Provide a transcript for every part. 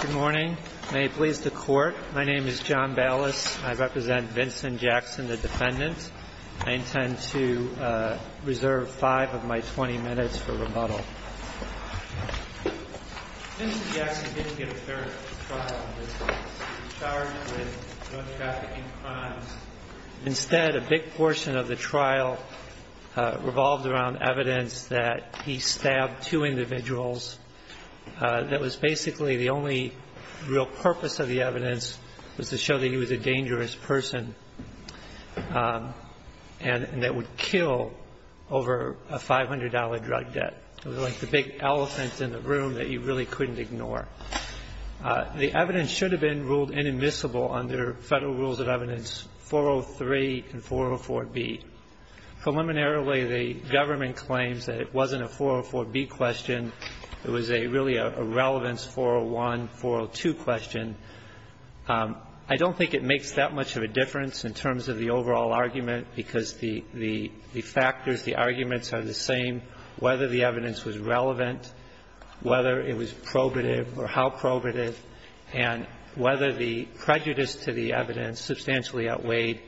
Good morning. May it please the Court, my name is John Ballas. I represent Vincent Jackson, the defendant. I intend to reserve five of my 20 minutes for rebuttal. Vincent Jackson didn't get a fair trial in this case. He was charged with drug trafficking crimes. Instead, a big portion of the trial revolved around evidence that he stabbed two individuals. That was basically the only real purpose of the evidence was to show that he was a dangerous person and that would kill over a $500 drug debt. It was like the big elephant in the room that you really couldn't ignore. The evidence should have been ruled inadmissible under Federal Rules of Evidence 403 and 404B. Preliminarily, the government claims that it wasn't a 404B question. It was really a relevance 401, 402 question. I don't think it makes that much of a difference in terms of the overall argument because the factors, the arguments are the same, whether the evidence was relevant, whether it was probative or how probative, and whether the prejudice to the evidence substantially outweighed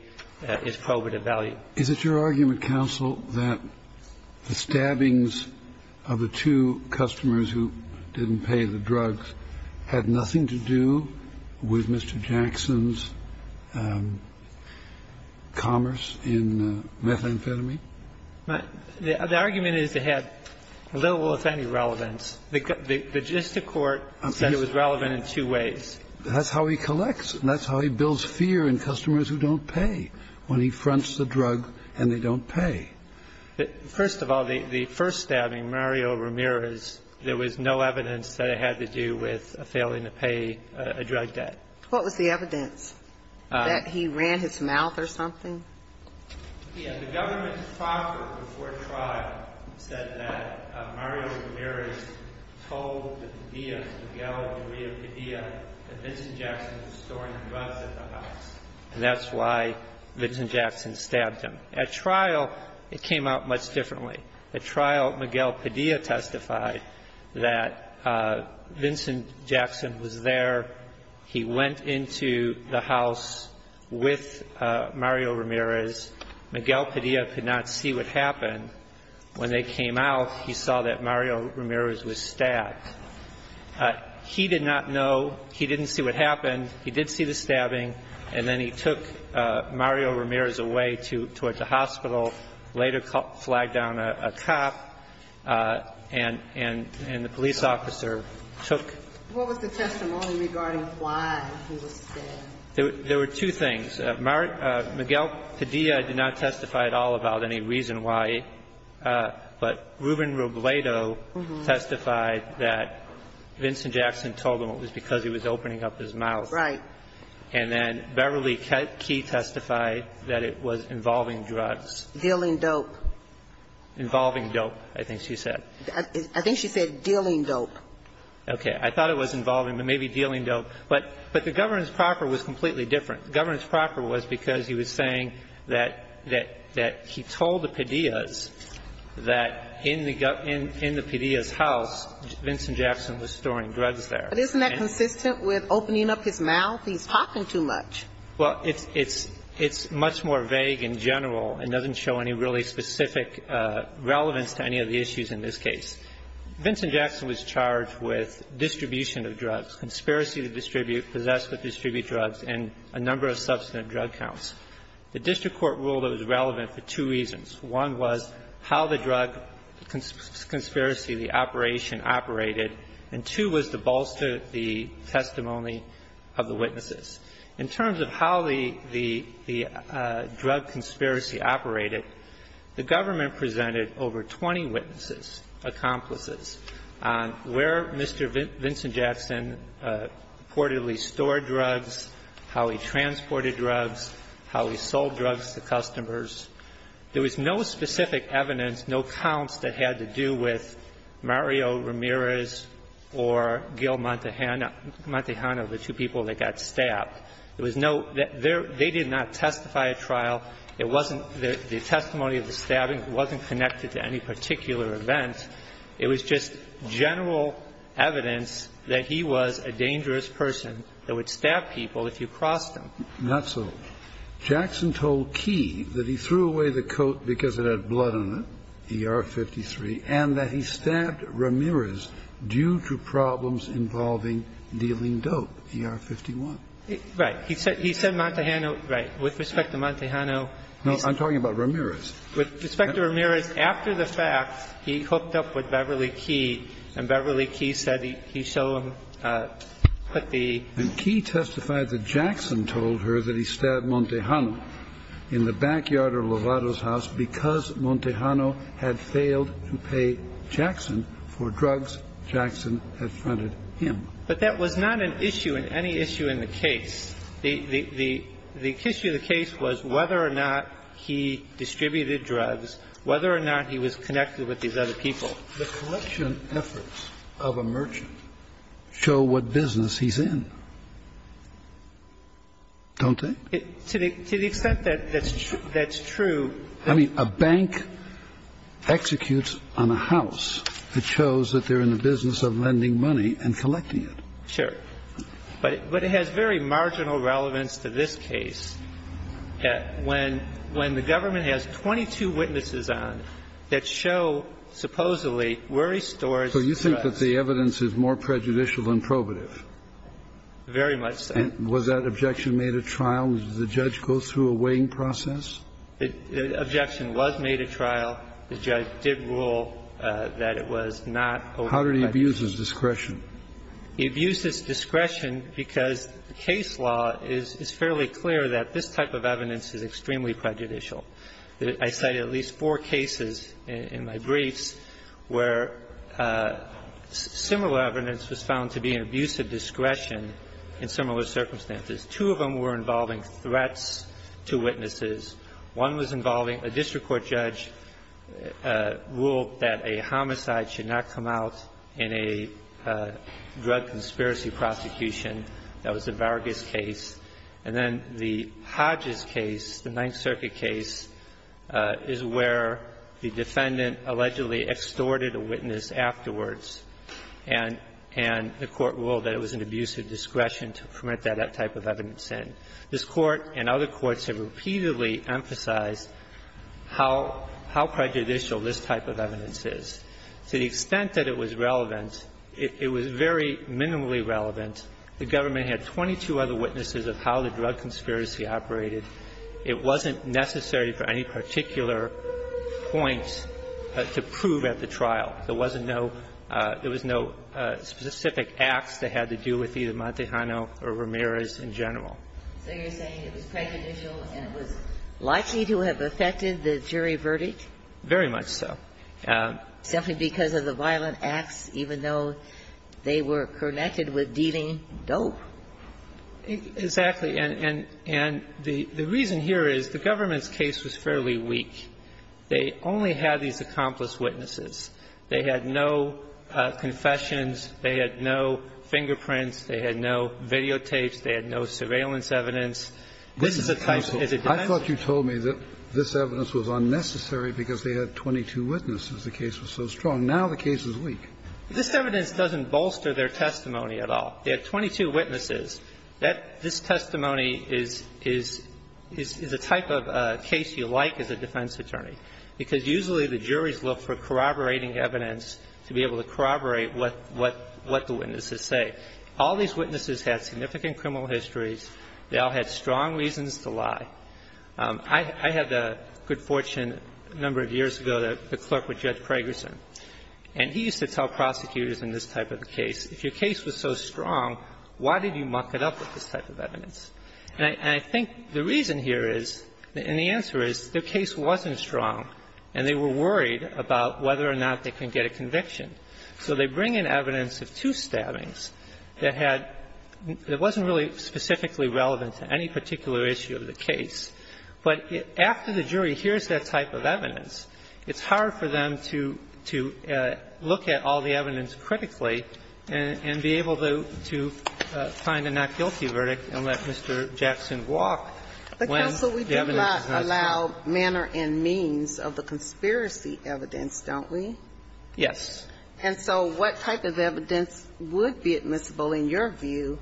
its probative value. Is it your argument, counsel, that the stabbings of the two customers who didn't pay the drugs had nothing to do with Mr. Jackson's commerce in methamphetamine? The argument is it had little or if any relevance. The gist of court says it was relevant in two ways. That's how he collects and that's how he builds fear in customers who don't pay, when he fronts the drug and they don't pay. First of all, the first stabbing, Mario Ramirez, there was no evidence that it had to do with failing to pay a drug debt. What was the evidence? That he ran his mouth or something? Yes. The government's proffer before trial said that Mario Ramirez told the pedia, Miguel and Maria Pedia, that Vincent Jackson was storing the drugs at the house. And that's why Vincent Jackson stabbed him. At trial, it came out much differently. At trial, Miguel Pedia testified that Vincent Jackson was there. He went into the house with Mario Ramirez. Miguel Pedia could not see what happened. When they came out, he saw that Mario Ramirez was stabbed. He did not know. He didn't see what happened. He did see the stabbing. And then he took Mario Ramirez away toward the hospital, later flagged down a cop, and the police officer took. What was the testimony regarding why he was stabbed? There were two things. Miguel Pedia did not testify at all about any reason why. But Ruben Robledo testified that Vincent Jackson told him it was because he was opening up his mouth. Right. And then Beverly Key testified that it was involving drugs. Dealing dope. Involving dope, I think she said. I think she said dealing dope. Okay. I thought it was involving, but maybe dealing dope. But the governance proper was completely different. The governance proper was because he was saying that he told the pedias that in the pedia's house, Vincent Jackson was storing drugs there. But isn't that consistent with opening up his mouth? He's talking too much. Well, it's much more vague in general and doesn't show any really specific relevance to any of the issues in this case. Vincent Jackson was charged with distribution of drugs, conspiracy to distribute, possess but distribute drugs, and a number of substantive drug counts. The district court ruled it was relevant for two reasons. One was how the drug conspiracy, the operation, operated. And two was to bolster the testimony of the witnesses. In terms of how the drug conspiracy operated, the government presented over 20 witnesses, accomplices, where Mr. Vincent Jackson reportedly stored drugs, how he transported drugs, how he sold drugs to customers. There was no specific evidence, no counts that had to do with Mario Ramirez or Gil Montejano, the two people that got stabbed. There was no – they did not testify at trial. It wasn't – the testimony of the stabbing wasn't connected to any particular event. It was just general evidence that he was a dangerous person that would stab people if you crossed him. Not so. Jackson told Key that he threw away the coat because it had blood on it, ER-53, and that he stabbed Ramirez due to problems involving dealing dope, ER-51. Right. He said – he said Montejano – right. With respect to Montejano, he said – I'm talking about Ramirez. With respect to Ramirez, after the fact, he hooked up with Beverly Key, and Beverly Key said he showed him the – And Key testified that Jackson told her that he stabbed Montejano in the backyard of Lovato's house because Montejano had failed to pay Jackson for drugs Jackson had funded him. But that was not an issue in any issue in the case. The – the issue of the case was whether or not he distributed drugs, whether or not he was connected with these other people. The collection efforts of a merchant show what business he's in, don't they? To the – to the extent that that's true. I mean, a bank executes on a house. It shows that they're in the business of lending money and collecting it. Sure. But it has very marginal relevance to this case. And I think it's important to note that in this case, when the government has 22 witnesses on that show supposedly worry stores drugs. So you think that the evidence is more prejudicial than probative? Very much so. And was that objection made at trial? Did the judge go through a weighing process? The objection was made at trial. The judge did rule that it was not. How did he abuse his discretion? He abused his discretion because the case law is fairly clear that this type of evidence is extremely prejudicial. I cited at least four cases in my briefs where similar evidence was found to be an abuse of discretion in similar circumstances. Two of them were involving threats to witnesses. One was involving a district court judge ruled that a homicide should not come out in a drug conspiracy prosecution. That was the Vargas case. And then the Hodges case, the Ninth Circuit case, is where the defendant allegedly extorted a witness afterwards, and the Court ruled that it was an abuse of discretion to permit that type of evidence in. This Court and other courts have repeatedly emphasized how prejudicial this type of evidence is. To the extent that it was relevant, it was very minimally relevant. The government had 22 other witnesses of how the drug conspiracy operated. It wasn't necessary for any particular point to prove at the trial. There wasn't no – there was no specific acts that had to do with either Montejano or Ramirez in general. So you're saying it was prejudicial and it was likely to have affected the jury verdict? Very much so. Simply because of the violent acts, even though they were connected with dealing dope. Exactly. And the reason here is the government's case was fairly weak. They only had these accomplice witnesses. They had no confessions. They had no fingerprints. They had no videotapes. They had no surveillance evidence. This is a type of defense. I thought you told me that this evidence was unnecessary because they had 22 witnesses. The case was so strong. Now the case is weak. This evidence doesn't bolster their testimony at all. They had 22 witnesses. This testimony is a type of case you like as a defense attorney, because usually the juries look for corroborating evidence to be able to corroborate what the witnesses say. All these witnesses had significant criminal histories. They all had strong reasons to lie. I had the good fortune a number of years ago that the clerk with Judge Pragerson, and he used to tell prosecutors in this type of case, if your case was so strong, why did you muck it up with this type of evidence? And I think the reason here is, and the answer is, the case wasn't strong and they were worried about whether or not they could get a conviction. So they bring in evidence of two stabbings that had – that wasn't really specifically relevant to any particular issue of the case. But after the jury hears that type of evidence, it's hard for them to look at all the evidence critically and be able to find a not guilty verdict and let Mr. Jackson walk when the evidence is not strong. Ginsburg. But, counsel, we do not allow manner and means of the conspiracy evidence, don't we? Yes. And so what type of evidence would be admissible, in your view,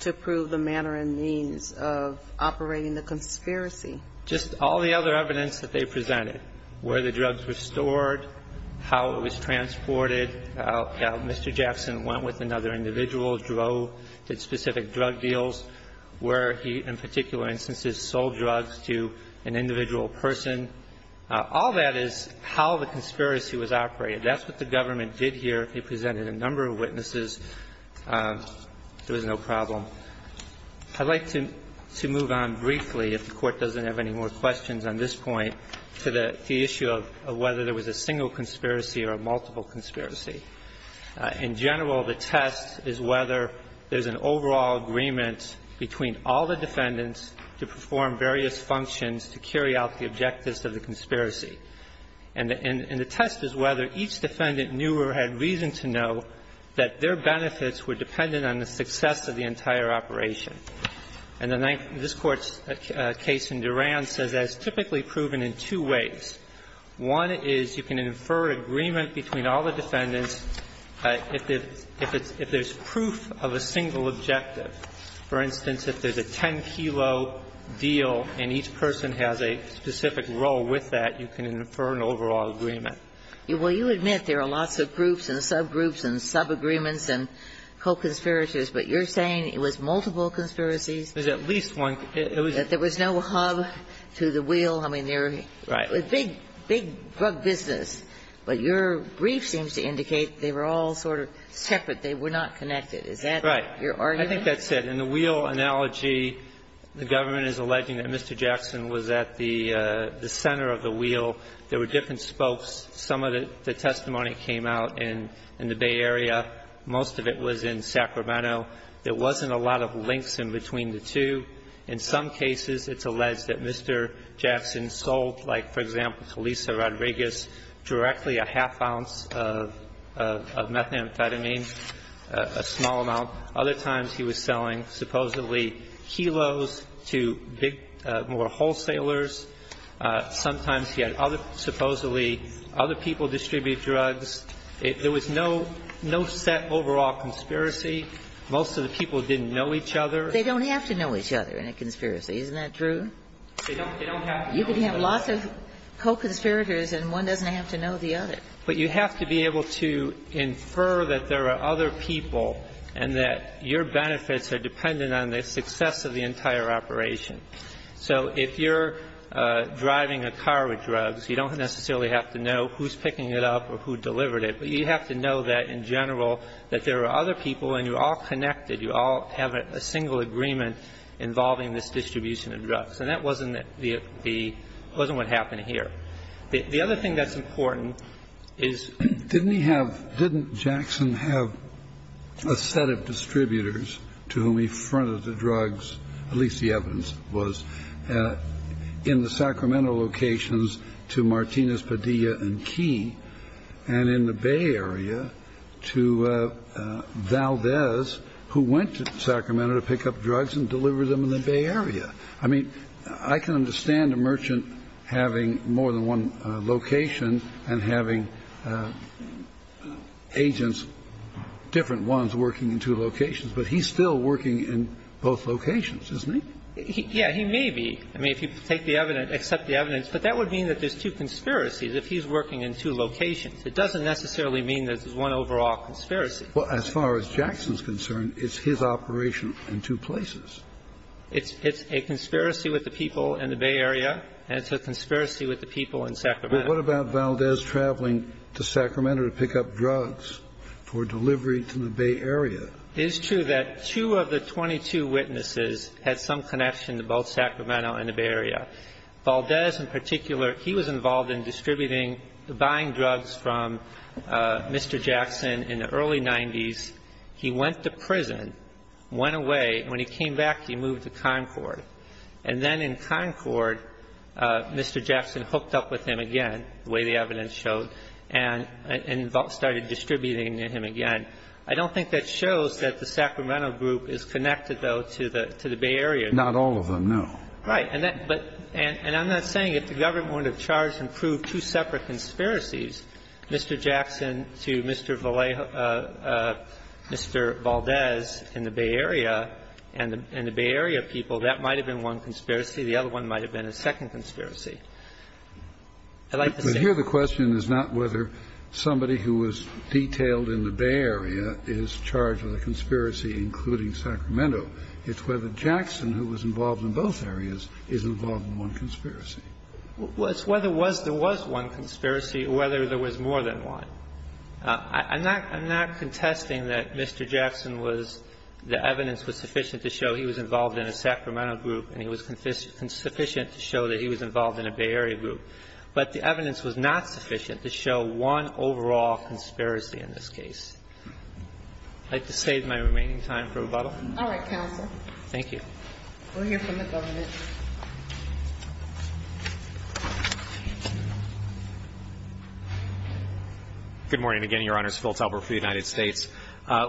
to prove the manner and means of operating the conspiracy? Just all the other evidence that they presented, where the drugs were stored, how it was transported, how Mr. Jackson went with another individual, drove to specific drug deals, where he, in particular instances, sold drugs to an individual person. All that is how the conspiracy was operated. That's what the government did here. It presented a number of witnesses. There was no problem. I'd like to move on briefly, if the Court doesn't have any more questions on this point, to the issue of whether there was a single conspiracy or a multiple conspiracy. In general, the test is whether there's an overall agreement between all the defendants to perform various functions to carry out the objectives of the conspiracy. And the test is whether each defendant knew or had reason to know that their benefits were dependent on the success of the entire operation. And this Court's case in Duran says that's typically proven in two ways. One is you can infer agreement between all the defendants if there's proof of a single objective. For instance, if there's a 10-kilo deal and each person has a specific role with that, you can infer an overall agreement. Well, you admit there are lots of groups and subgroups and subagreements and co-conspirators, but you're saying it was multiple conspiracies? There's at least one. That there was no hub to the wheel. I mean, they're a big, big drug business. But your brief seems to indicate they were all sort of separate. They were not connected. Is that your argument? Right. I think that's it. of the wheel. There were different spokes. Some of the testimony came out in the Bay Area. Most of it was in Sacramento. There wasn't a lot of links in between the two. In some cases, it's alleged that Mr. Jackson sold, like, for example, to Lisa Rodriguez directly a half ounce of methamphetamine, a small amount. Other times, he was selling supposedly kilos to more wholesalers. Sometimes he had other, supposedly, other people distribute drugs. There was no, no set overall conspiracy. Most of the people didn't know each other. They don't have to know each other in a conspiracy. Isn't that true? They don't have to know each other. You can have lots of co-conspirators and one doesn't have to know the other. But you have to be able to infer that there are other people and that your benefits are dependent on the success of the entire operation. So if you're driving a car with drugs, you don't necessarily have to know who's picking it up or who delivered it. But you have to know that, in general, that there are other people and you're all connected, you all have a single agreement involving this distribution of drugs. And that wasn't the – wasn't what happened here. The other thing that's important is – And in the Bay Area, to Valdez, who went to Sacramento to pick up drugs and deliver them in the Bay Area. I mean, I can understand a merchant having more than one location and having agents, different ones, working in two locations. But he's still working in both locations, isn't he? Yeah, he may be. I mean, if you take the evidence, accept the evidence. But that would mean that there's two conspiracies if he's working in two locations. It doesn't necessarily mean that there's one overall conspiracy. Well, as far as Jackson's concerned, it's his operation in two places. It's a conspiracy with the people in the Bay Area and it's a conspiracy with the people in Sacramento. But what about Valdez traveling to Sacramento to pick up drugs for delivery to the Bay Area? It is true that two of the 22 witnesses had some connection to both Sacramento and the Bay Area. Valdez, in particular, he was involved in distributing – buying drugs from Mr. Jackson in the early 90s. He went to prison, went away, and when he came back, he moved to Concord. And then in Concord, Mr. Jackson hooked up with him again, the way the evidence showed, and started distributing to him again. I don't think that shows that the Sacramento group is connected, though, to the Bay Area. Not all of them, no. Right. And I'm not saying if the government wouldn't have charged and proved two separate conspiracies, Mr. Jackson to Mr. Valdez in the Bay Area and the Bay Area people, that might have been one conspiracy. The other one might have been a second conspiracy. I'd like to say – But here the question is not whether somebody who was detailed in the Bay Area is charged with a conspiracy, including Sacramento. It's whether Jackson, who was involved in both areas, is involved in one conspiracy. Well, it's whether there was one conspiracy or whether there was more than one. I'm not contesting that Mr. Jackson was – the evidence was sufficient to show he was involved in a Sacramento group and he was sufficient to show that he was involved in a Bay Area group. But the evidence was not sufficient to show one overall conspiracy in this case. I'd like to save my remaining time for rebuttal. All right, counsel. Thank you. We'll hear from the government. Good morning again, Your Honors. Phil Talbert for the United States.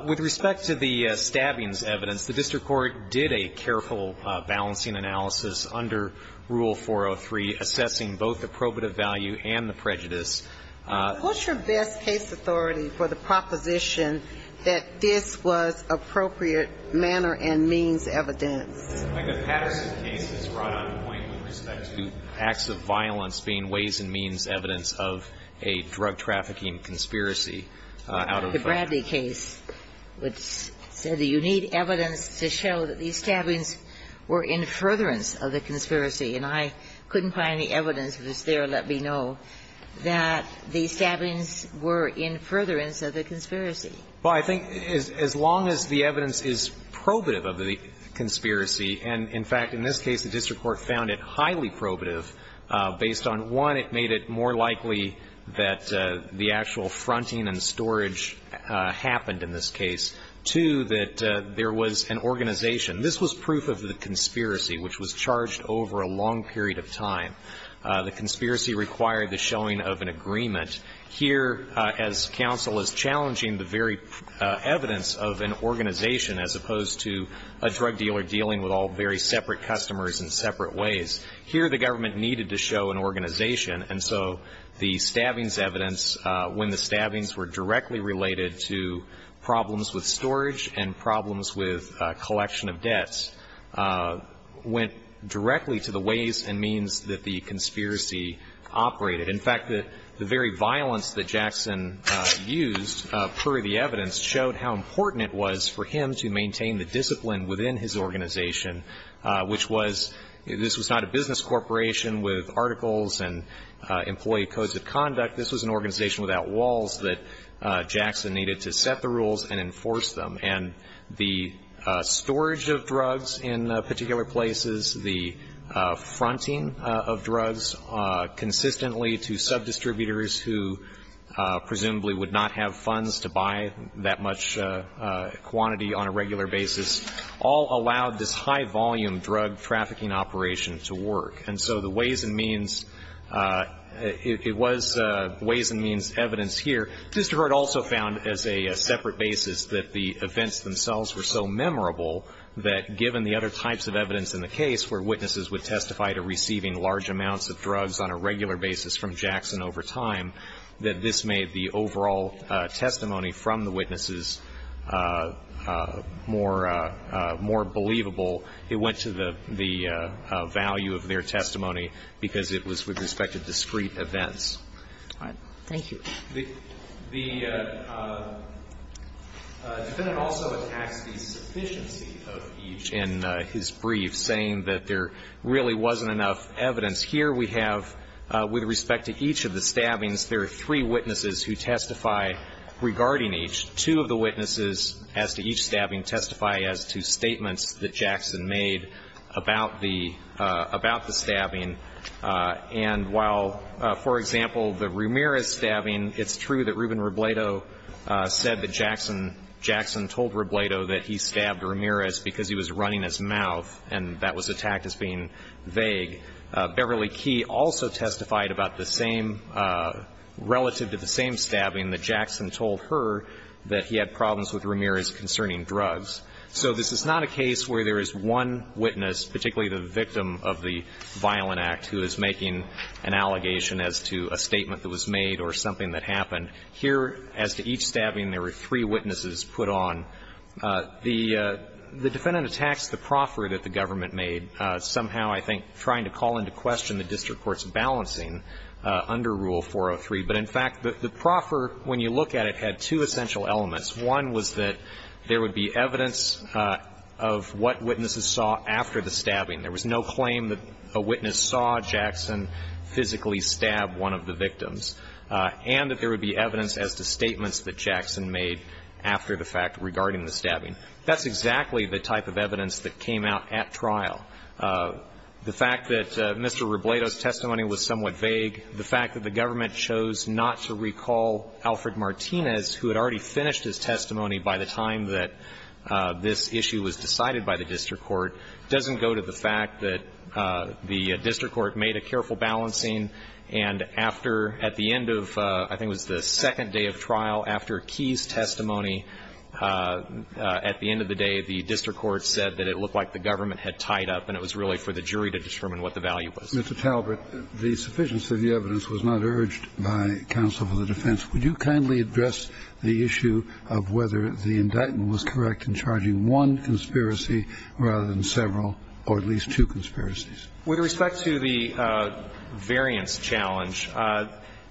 With respect to the stabbings evidence, the district court did a careful balancing analysis under Rule 403 assessing both the probative value and the prejudice. What's your best case authority for the proposition that this was appropriate manner and means evidence? I think that Patterson's case is right on point with respect to acts of violence being ways and means evidence of a drug trafficking conspiracy. The Bradley case, which said that you need evidence to show that these stabbings were in furtherance of the conspiracy. And I couldn't find the evidence that was there to let me know that these stabbings were in furtherance of the conspiracy. Well, I think as long as the evidence is probative of the conspiracy, and in fact, in this case the district court found it highly probative based on, one, it made it more likely that the actual fronting and storage happened in this case. Two, that there was an organization. This was proof of the conspiracy, which was charged over a long period of time. The conspiracy required the showing of an agreement. Here, as counsel, is challenging the very evidence of an organization as opposed to a drug dealer dealing with all very separate customers in separate ways. Here, the government needed to show an organization. And so the stabbings evidence, when the stabbings were directly related to problems with storage and problems with collection of debts, went directly to the ways and means that the conspiracy operated. In fact, the very violence that Jackson used, per the evidence, showed how important it was for him to maintain the discipline within his organization, which was this was not a business corporation with articles and employee codes of conduct. This was an organization without walls that Jackson needed to set the rules and enforce them. And the storage of drugs in particular places, the fronting of drugs consistently to subdistributors who presumably would not have funds to buy that much quantity on a regular basis, all allowed this high volume drug trafficking operation to work. And so the ways and means, it was ways and means evidence here. Mr. Hurd also found as a separate basis that the events themselves were so memorable that given the other types of evidence in the case where witnesses would testify to receiving large amounts of drugs on a regular basis from Jackson over time, that this made the overall testimony from the witnesses more believable. It went to the value of their testimony because it was with respect to discrete events. All right. Thank you. The defendant also attacks the sufficiency of each in his brief, saying that there really wasn't enough evidence. Here we have, with respect to each of the stabbings, there are three witnesses who testify regarding each. Two of the witnesses as to each stabbing testify as to statements that Jackson made about the stabbing. And while, for example, the Ramirez stabbing, it's true that Ruben Robledo said that Jackson told Robledo that he stabbed Ramirez because he was running his mouth and that was attacked as being vague. Beverly Key also testified about the same, relative to the same stabbing that Jackson told her that he had problems with Ramirez concerning drugs. So this is not a case where there is one witness, particularly the victim of the Violent Act, who is making an allegation as to a statement that was made or something that happened. Here, as to each stabbing, there were three witnesses put on. The defendant attacks the proffer that the government made, somehow, I think, trying to call into question the district court's balancing under Rule 403. But, in fact, the proffer, when you look at it, had two essential elements. One was that there would be evidence of what witnesses saw after the stabbing. There was no claim that a witness saw Jackson physically stab one of the victims. And that there would be evidence as to statements that Jackson made after the fact regarding the stabbing. That's exactly the type of evidence that came out at trial. The fact that Mr. Robledo's testimony was somewhat vague, the fact that the government chose not to recall Alfred Martinez, who had already finished his testimony by the time that this issue was decided by the district court, doesn't go to the fact that the district court made a careful balancing and after, at the end of, I think it was the second day of trial, after Key's testimony, at the end of the day, the district court said that it looked like the government had tied up and it was really for the jury to determine what the value was. Mr. Talbert, the sufficiency of the evidence was not urged by counsel for the defense. Would you kindly address the issue of whether the indictment was correct in charging one conspiracy rather than several or at least two conspiracies? With respect to the variance challenge,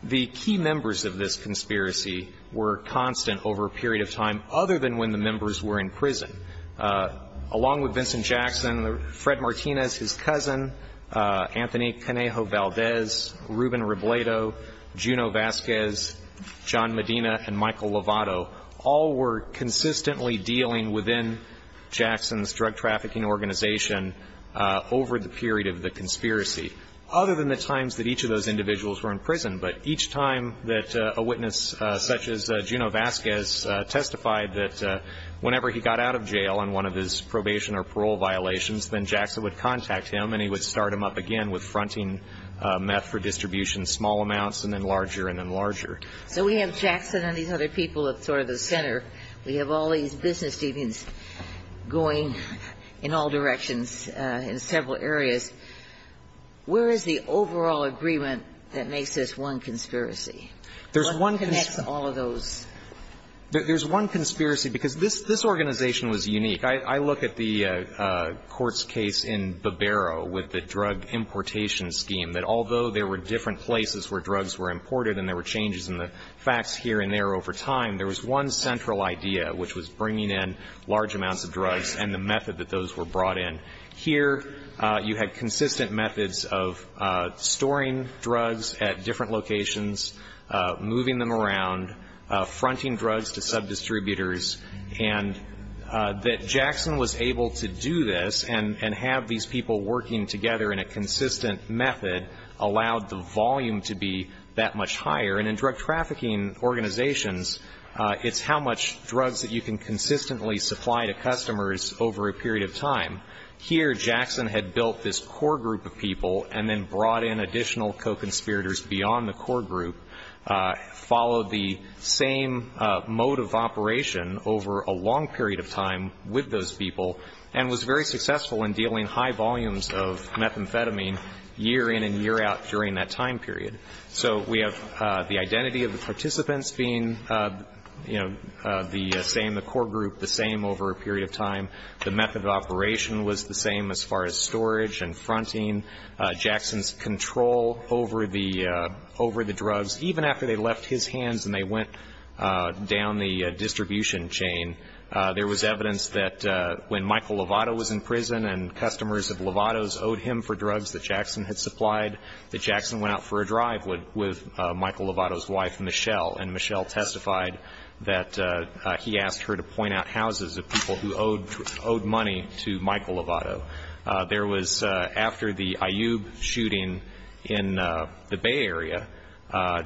the key members of this conspiracy were constant over a period of time other than when the members were in prison. Along with Vincent Jackson, Fred Martinez, his cousin, Anthony Canejo Valdez, Ruben Robledo, Junot Vasquez, John Medina, and Michael Lovato, all were consistently dealing within Jackson's drug trafficking organization over the period of the conspiracy, other than the times that each of those individuals were in prison. But each time that a witness such as Junot Vasquez testified that whenever he got out of jail on one of his probation or parole violations, then Jackson would contact him and he would start him up again with fronting meth for distribution, small amounts and then larger and then larger. So we have Jackson and these other people at sort of the center. We have all these business unions going in all directions in several areas. Where is the overall agreement that makes this one conspiracy? There's one conspiracy. What connects all of those? There's one conspiracy, because this organization was unique. I look at the court's case in Barbero with the drug importation scheme, that although there were different places where drugs were imported and there were changes in the facts here and there over time, there was one central idea, which was bringing in large amounts of drugs and the method that those were brought in. Here, you had consistent methods of storing drugs at different locations, moving them around, fronting drugs to subdistributors, and that Jackson was able to do this and have these people working together in a consistent method allowed the volume to be that much higher. And in drug trafficking organizations, it's how much drugs that you can consistently supply to customers over a period of time. Here, Jackson had built this core group of people and then brought in additional co-conspirators beyond the core group, followed the same mode of operation over a long period of time with those people, and was very successful in dealing high volumes of methamphetamine year in and year out during that time period. So we have the identity of the participants being, you know, the same, the core group the same over a period of time. The method of operation was the same as far as storage and fronting. Jackson's control over the drugs, even after they left his hands and they went down the distribution chain, there was evidence that when Michael Lovato was in prison and customers of Lovato's owed him for drugs that Jackson had supplied, that Jackson went out for a drive with Michael Lovato's wife, Michelle, and Michelle testified that he asked her to point out houses of people who owed money to Michael Lovato. There was, after the Ayub shooting in the Bay Area,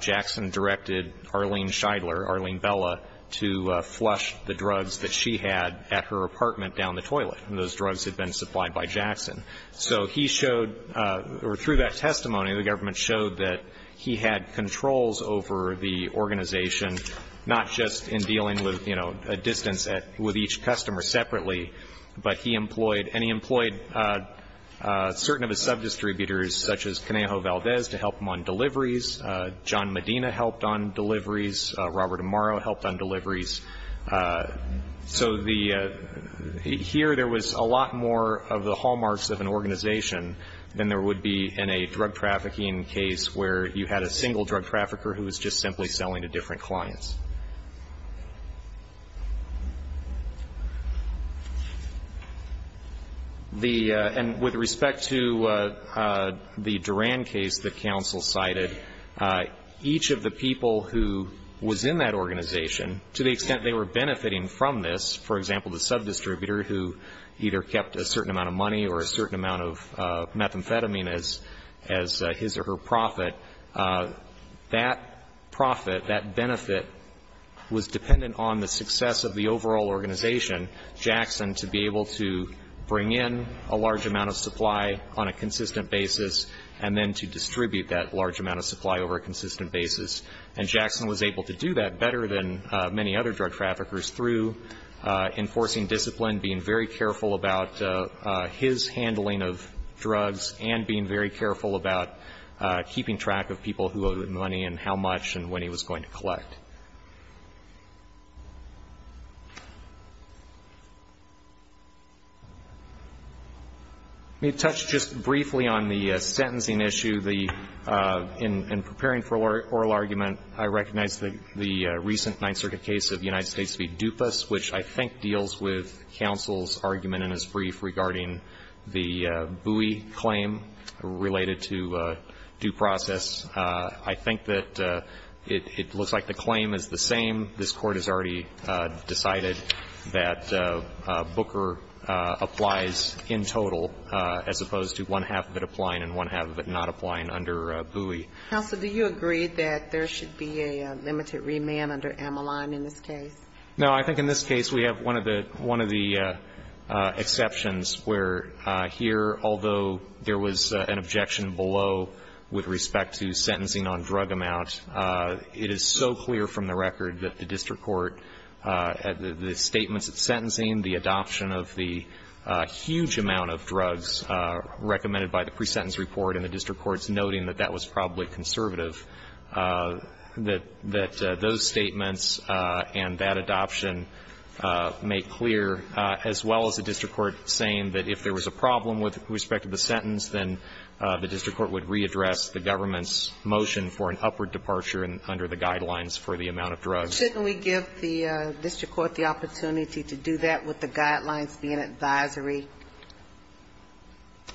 Jackson directed Arlene Scheidler, Arlene Bella, to flush the drugs that she had at her apartment down the toilet. And those drugs had been supplied by Jackson. So he showed, or through that testimony, the government showed that he had controls over the organization, not just in dealing with, you know, a distance with each And he employed certain of his sub-distributors, such as Canejo Valdez, to help him on deliveries. John Medina helped on deliveries. Robert Amaro helped on deliveries. So the, here there was a lot more of the hallmarks of an organization than there would be in a drug trafficking case where you had a single drug trafficker who was just simply selling to different clients. The, and with respect to the Durand case that counsel cited, each of the people who was in that organization, to the extent they were benefiting from this, for example, the sub-distributor who either kept a certain amount of money or a certain amount of methamphetamine as his or her profit, that profit, that benefit, would be dependent on the success of the overall organization, Jackson, to be able to bring in a large amount of supply on a consistent basis and then to distribute that large amount of supply over a consistent basis. And Jackson was able to do that better than many other drug traffickers through enforcing discipline, being very careful about his handling of drugs, and being very careful about keeping track of people who owed him money and how much and when he was going to collect. Let me touch just briefly on the sentencing issue. In preparing for oral argument, I recognize the recent Ninth Circuit case of United States v. Dupas, which I think deals with counsel's argument in his brief regarding the Bowie claim related to due process. I think that it looks like the claim is the same. This Court has already decided that Booker applies in total as opposed to one-half of it applying and one-half of it not applying under Bowie. Counsel, do you agree that there should be a limited remand under Ameline in this case? No. I think in this case we have one of the exceptions where here, although there was an objection below with respect to sentencing on drug amount, it is so clear from the record that the district court, the statements at sentencing, the adoption of the huge amount of drugs recommended by the pre-sentence report and the district courts noting that that was probably conservative, that those statements and that would re-address the government's motion for an upward departure under the guidelines for the amount of drugs. Shouldn't we give the district court the opportunity to do that with the guidelines being advisory?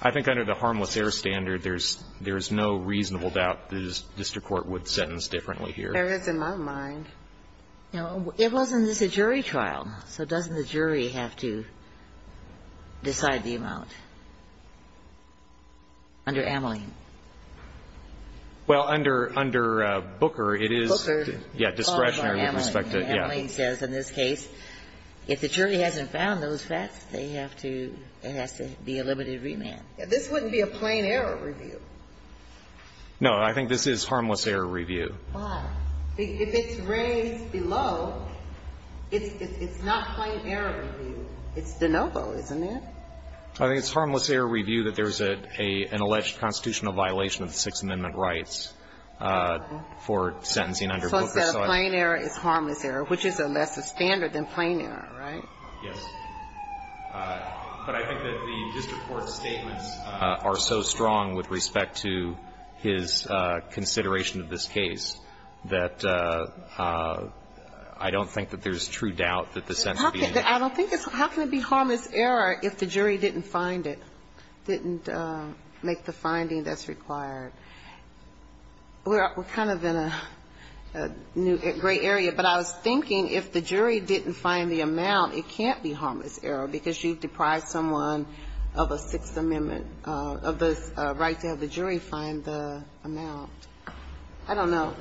I think under the harmless error standard, there's no reasonable doubt the district court would sentence differently here. There is in my mind. It wasn't just a jury trial, so doesn't the jury have to decide the amount? Under Ameline. Well, under Booker, it is discretionary with respect to, yeah. Booker, Ameline says in this case, if the jury hasn't found those facts, they have to, it has to be a limited remand. This wouldn't be a plain error review. No, I think this is harmless error review. Why? If it's raised below, it's not plain error review. It's de novo, isn't it? I think it's harmless error review that there's an alleged constitutional violation of the Sixth Amendment rights for sentencing under Booker. So instead of plain error, it's harmless error, which is a lesser standard than plain error, right? Yes. But I think that the district court's statements are so strong with respect to his consideration of this case that I don't think that there's true doubt that the sentence would be in there. I don't think it's, how can it be harmless error if the jury didn't find it, didn't make the finding that's required? We're kind of in a new, gray area, but I was thinking if the jury didn't find the amount, it can't be harmless error because you've deprived someone of a Sixth Amendment, of the right to have the jury find the amount. I don't know.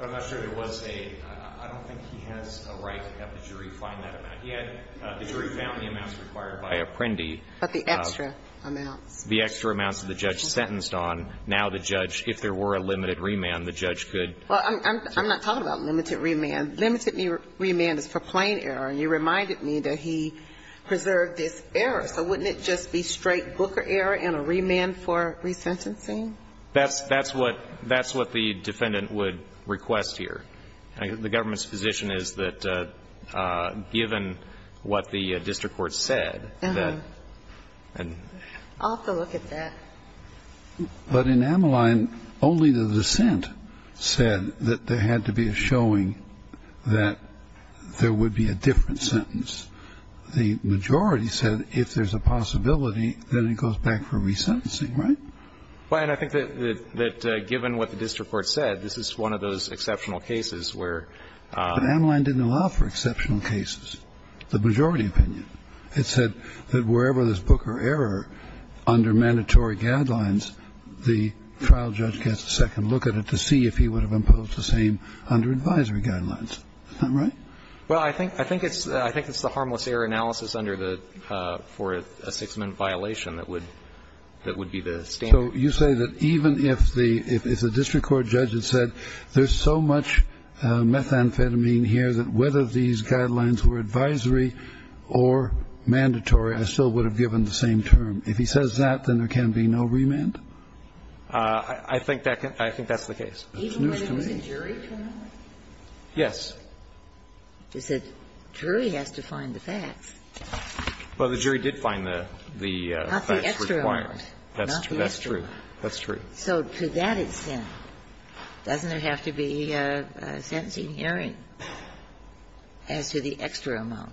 I'm not sure there was a, I don't think he has a right to have the jury find that amount. He had the jury found the amounts required by Apprendi. But the extra amounts. The extra amounts that the judge sentenced on. Now the judge, if there were a limited remand, the judge could. Well, I'm not talking about limited remand. Limited remand is for plain error, and you reminded me that he preserved this error. So wouldn't it just be straight Booker error and a remand for resentencing? That's what the defendant would request here. The government's position is that given what the district court said, that. I'll have to look at that. But in Ameline, only the dissent said that there had to be a showing that there would be a different sentence. The majority said if there's a possibility, then it goes back for resentencing. Right? Well, and I think that given what the district court said, this is one of those exceptional cases where. But Ameline didn't allow for exceptional cases. The majority opinion. It said that wherever there's Booker error under mandatory guidelines, the trial judge gets a second look at it to see if he would have imposed the same under advisory guidelines. Is that right? Well, I think it's the harmless error analysis under the, for a six-minute violation that would be the standard. So you say that even if the district court judge had said there's so much methamphetamine here that whether these guidelines were advisory or mandatory, I still would have given the same term. If he says that, then there can be no remand? I think that's the case. Even when it was a jury term? Yes. The jury has to find the facts. Well, the jury did find the facts required. That's true. So to that extent, doesn't there have to be a sentencing hearing as to the extra amount?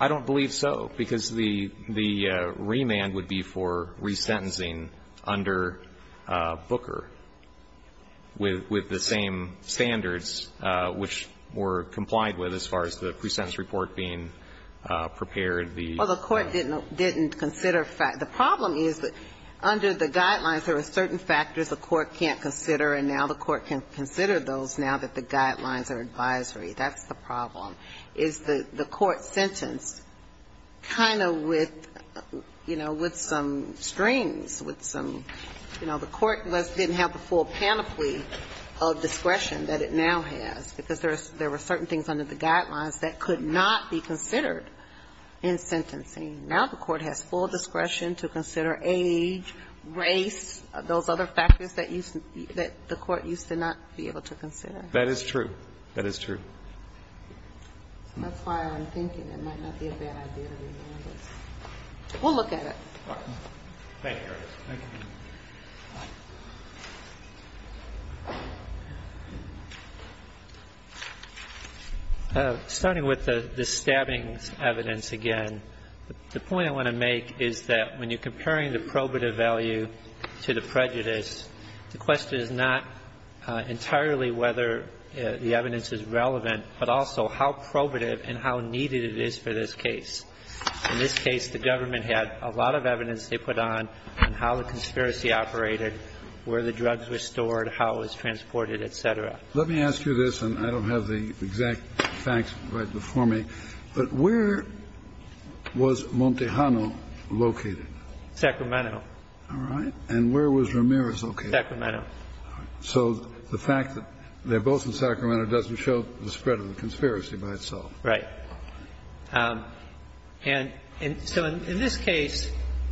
I don't believe so, because the remand would be for resentencing under Booker with the same standards which were complied with as far as the presentence report being prepared. Well, the court didn't consider facts. The problem is that under the guidelines there are certain factors the court can't consider, and now the court can consider those now that the guidelines are advisory. That's the problem, is the court sentence kind of with, you know, with some strings, with some, you know, the court didn't have the full panoply of discretion that it now has, because there were certain things under the guidelines that could not be considered in sentencing. Now the court has full discretion to consider age, race, those other factors that the court used to not be able to consider. That is true. That is true. That's why I'm thinking it might not be a bad idea to remand this. We'll look at it. All right. Thank you. Thank you. Starting with the stabbing evidence again, the point I want to make is that when you're comparing the probative value to the prejudice, the question is not entirely whether the evidence is relevant, but also how probative and how needed it is for this case. In this case, the government had a lot of evidence they put on how the conspiracy operated, where the drugs were stored, how it was transported, et cetera. Let me ask you this, and I don't have the exact facts right before me, but where was Montejano located? Sacramento. All right. And where was Ramirez located? Sacramento. So the fact that they're both in Sacramento doesn't show the spread of the conspiracy by itself. Right. And so in this case,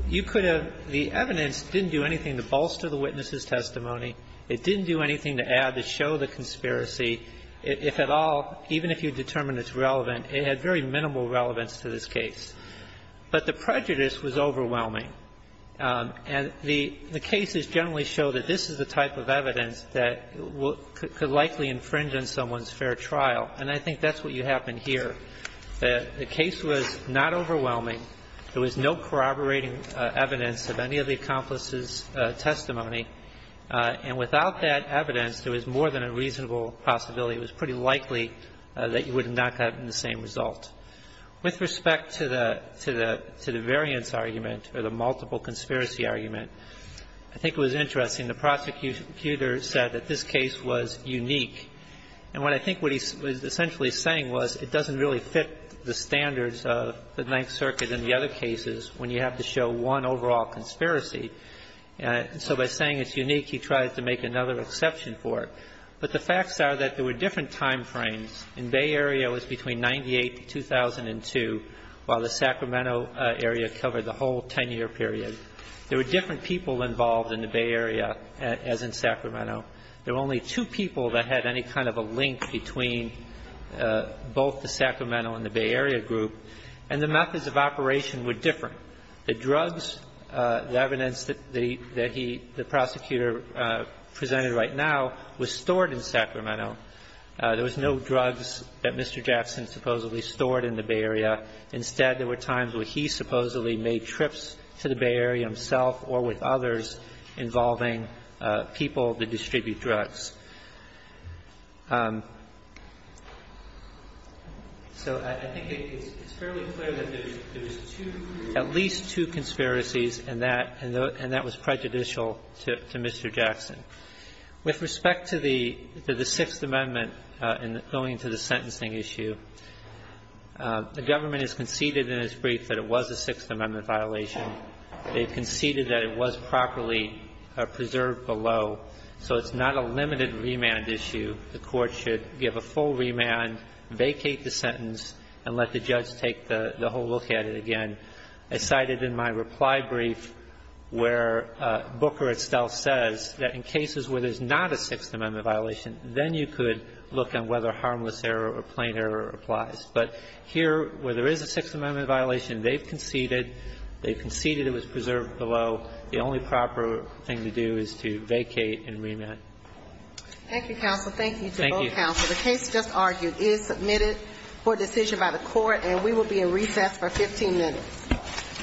you could have the evidence didn't do anything to bolster the witness's testimony. It didn't do anything to add to show the conspiracy. If at all, even if you determine it's relevant, it had very minimal relevance to this case. But the prejudice was overwhelming. And the cases generally show that this is the type of evidence that could likely infringe on someone's fair trial. And I think that's what you have in here. The case was not overwhelming. There was no corroborating evidence of any of the accomplices' testimony. And without that evidence, there was more than a reasonable possibility. It was pretty likely that you would have not gotten the same result. With respect to the variance argument or the multiple conspiracy argument, I think it was interesting. The prosecutor said that this case was unique. And what I think what he was essentially saying was it doesn't really fit the standards of the Ninth Circuit and the other cases when you have to show one overall conspiracy. So by saying it's unique, he tries to make another exception for it. But the facts are that there were different time frames. In Bay Area, it was between 1998 to 2002, while the Sacramento area covered the whole 10-year period. There were different people involved in the Bay Area as in Sacramento. There were only two people that had any kind of a link between both the Sacramento and the Bay Area group. And the methods of operation were different. The drugs, the evidence that he, the prosecutor presented right now, was stored in Sacramento. There was no drugs that Mr. Jackson supposedly stored in the Bay Area. Instead, there were times where he supposedly made trips to the Bay Area himself or with others involving people that distribute drugs. So I think it's fairly clear that there's two, at least two conspiracies, and that was prejudicial to Mr. Jackson. With respect to the Sixth Amendment and going to the sentencing issue, the government has conceded in its brief that it was a Sixth Amendment violation. They've conceded that it was properly preserved below. So it's not a limited remand issue. The Court should give a full remand, vacate the sentence, and let the judge take the whole look at it again. I cited in my reply brief where Booker itself says that in cases where there's not a Sixth Amendment violation, then you could look on whether harmless error or plain error applies. But here, where there is a Sixth Amendment violation, they've conceded. They've conceded it was preserved below. The only proper thing to do is to vacate and remand. Thank you, counsel. Thank you to both counsel. Thank you. The case just argued is submitted for decision by the Court, and we will be in recess for 15 minutes.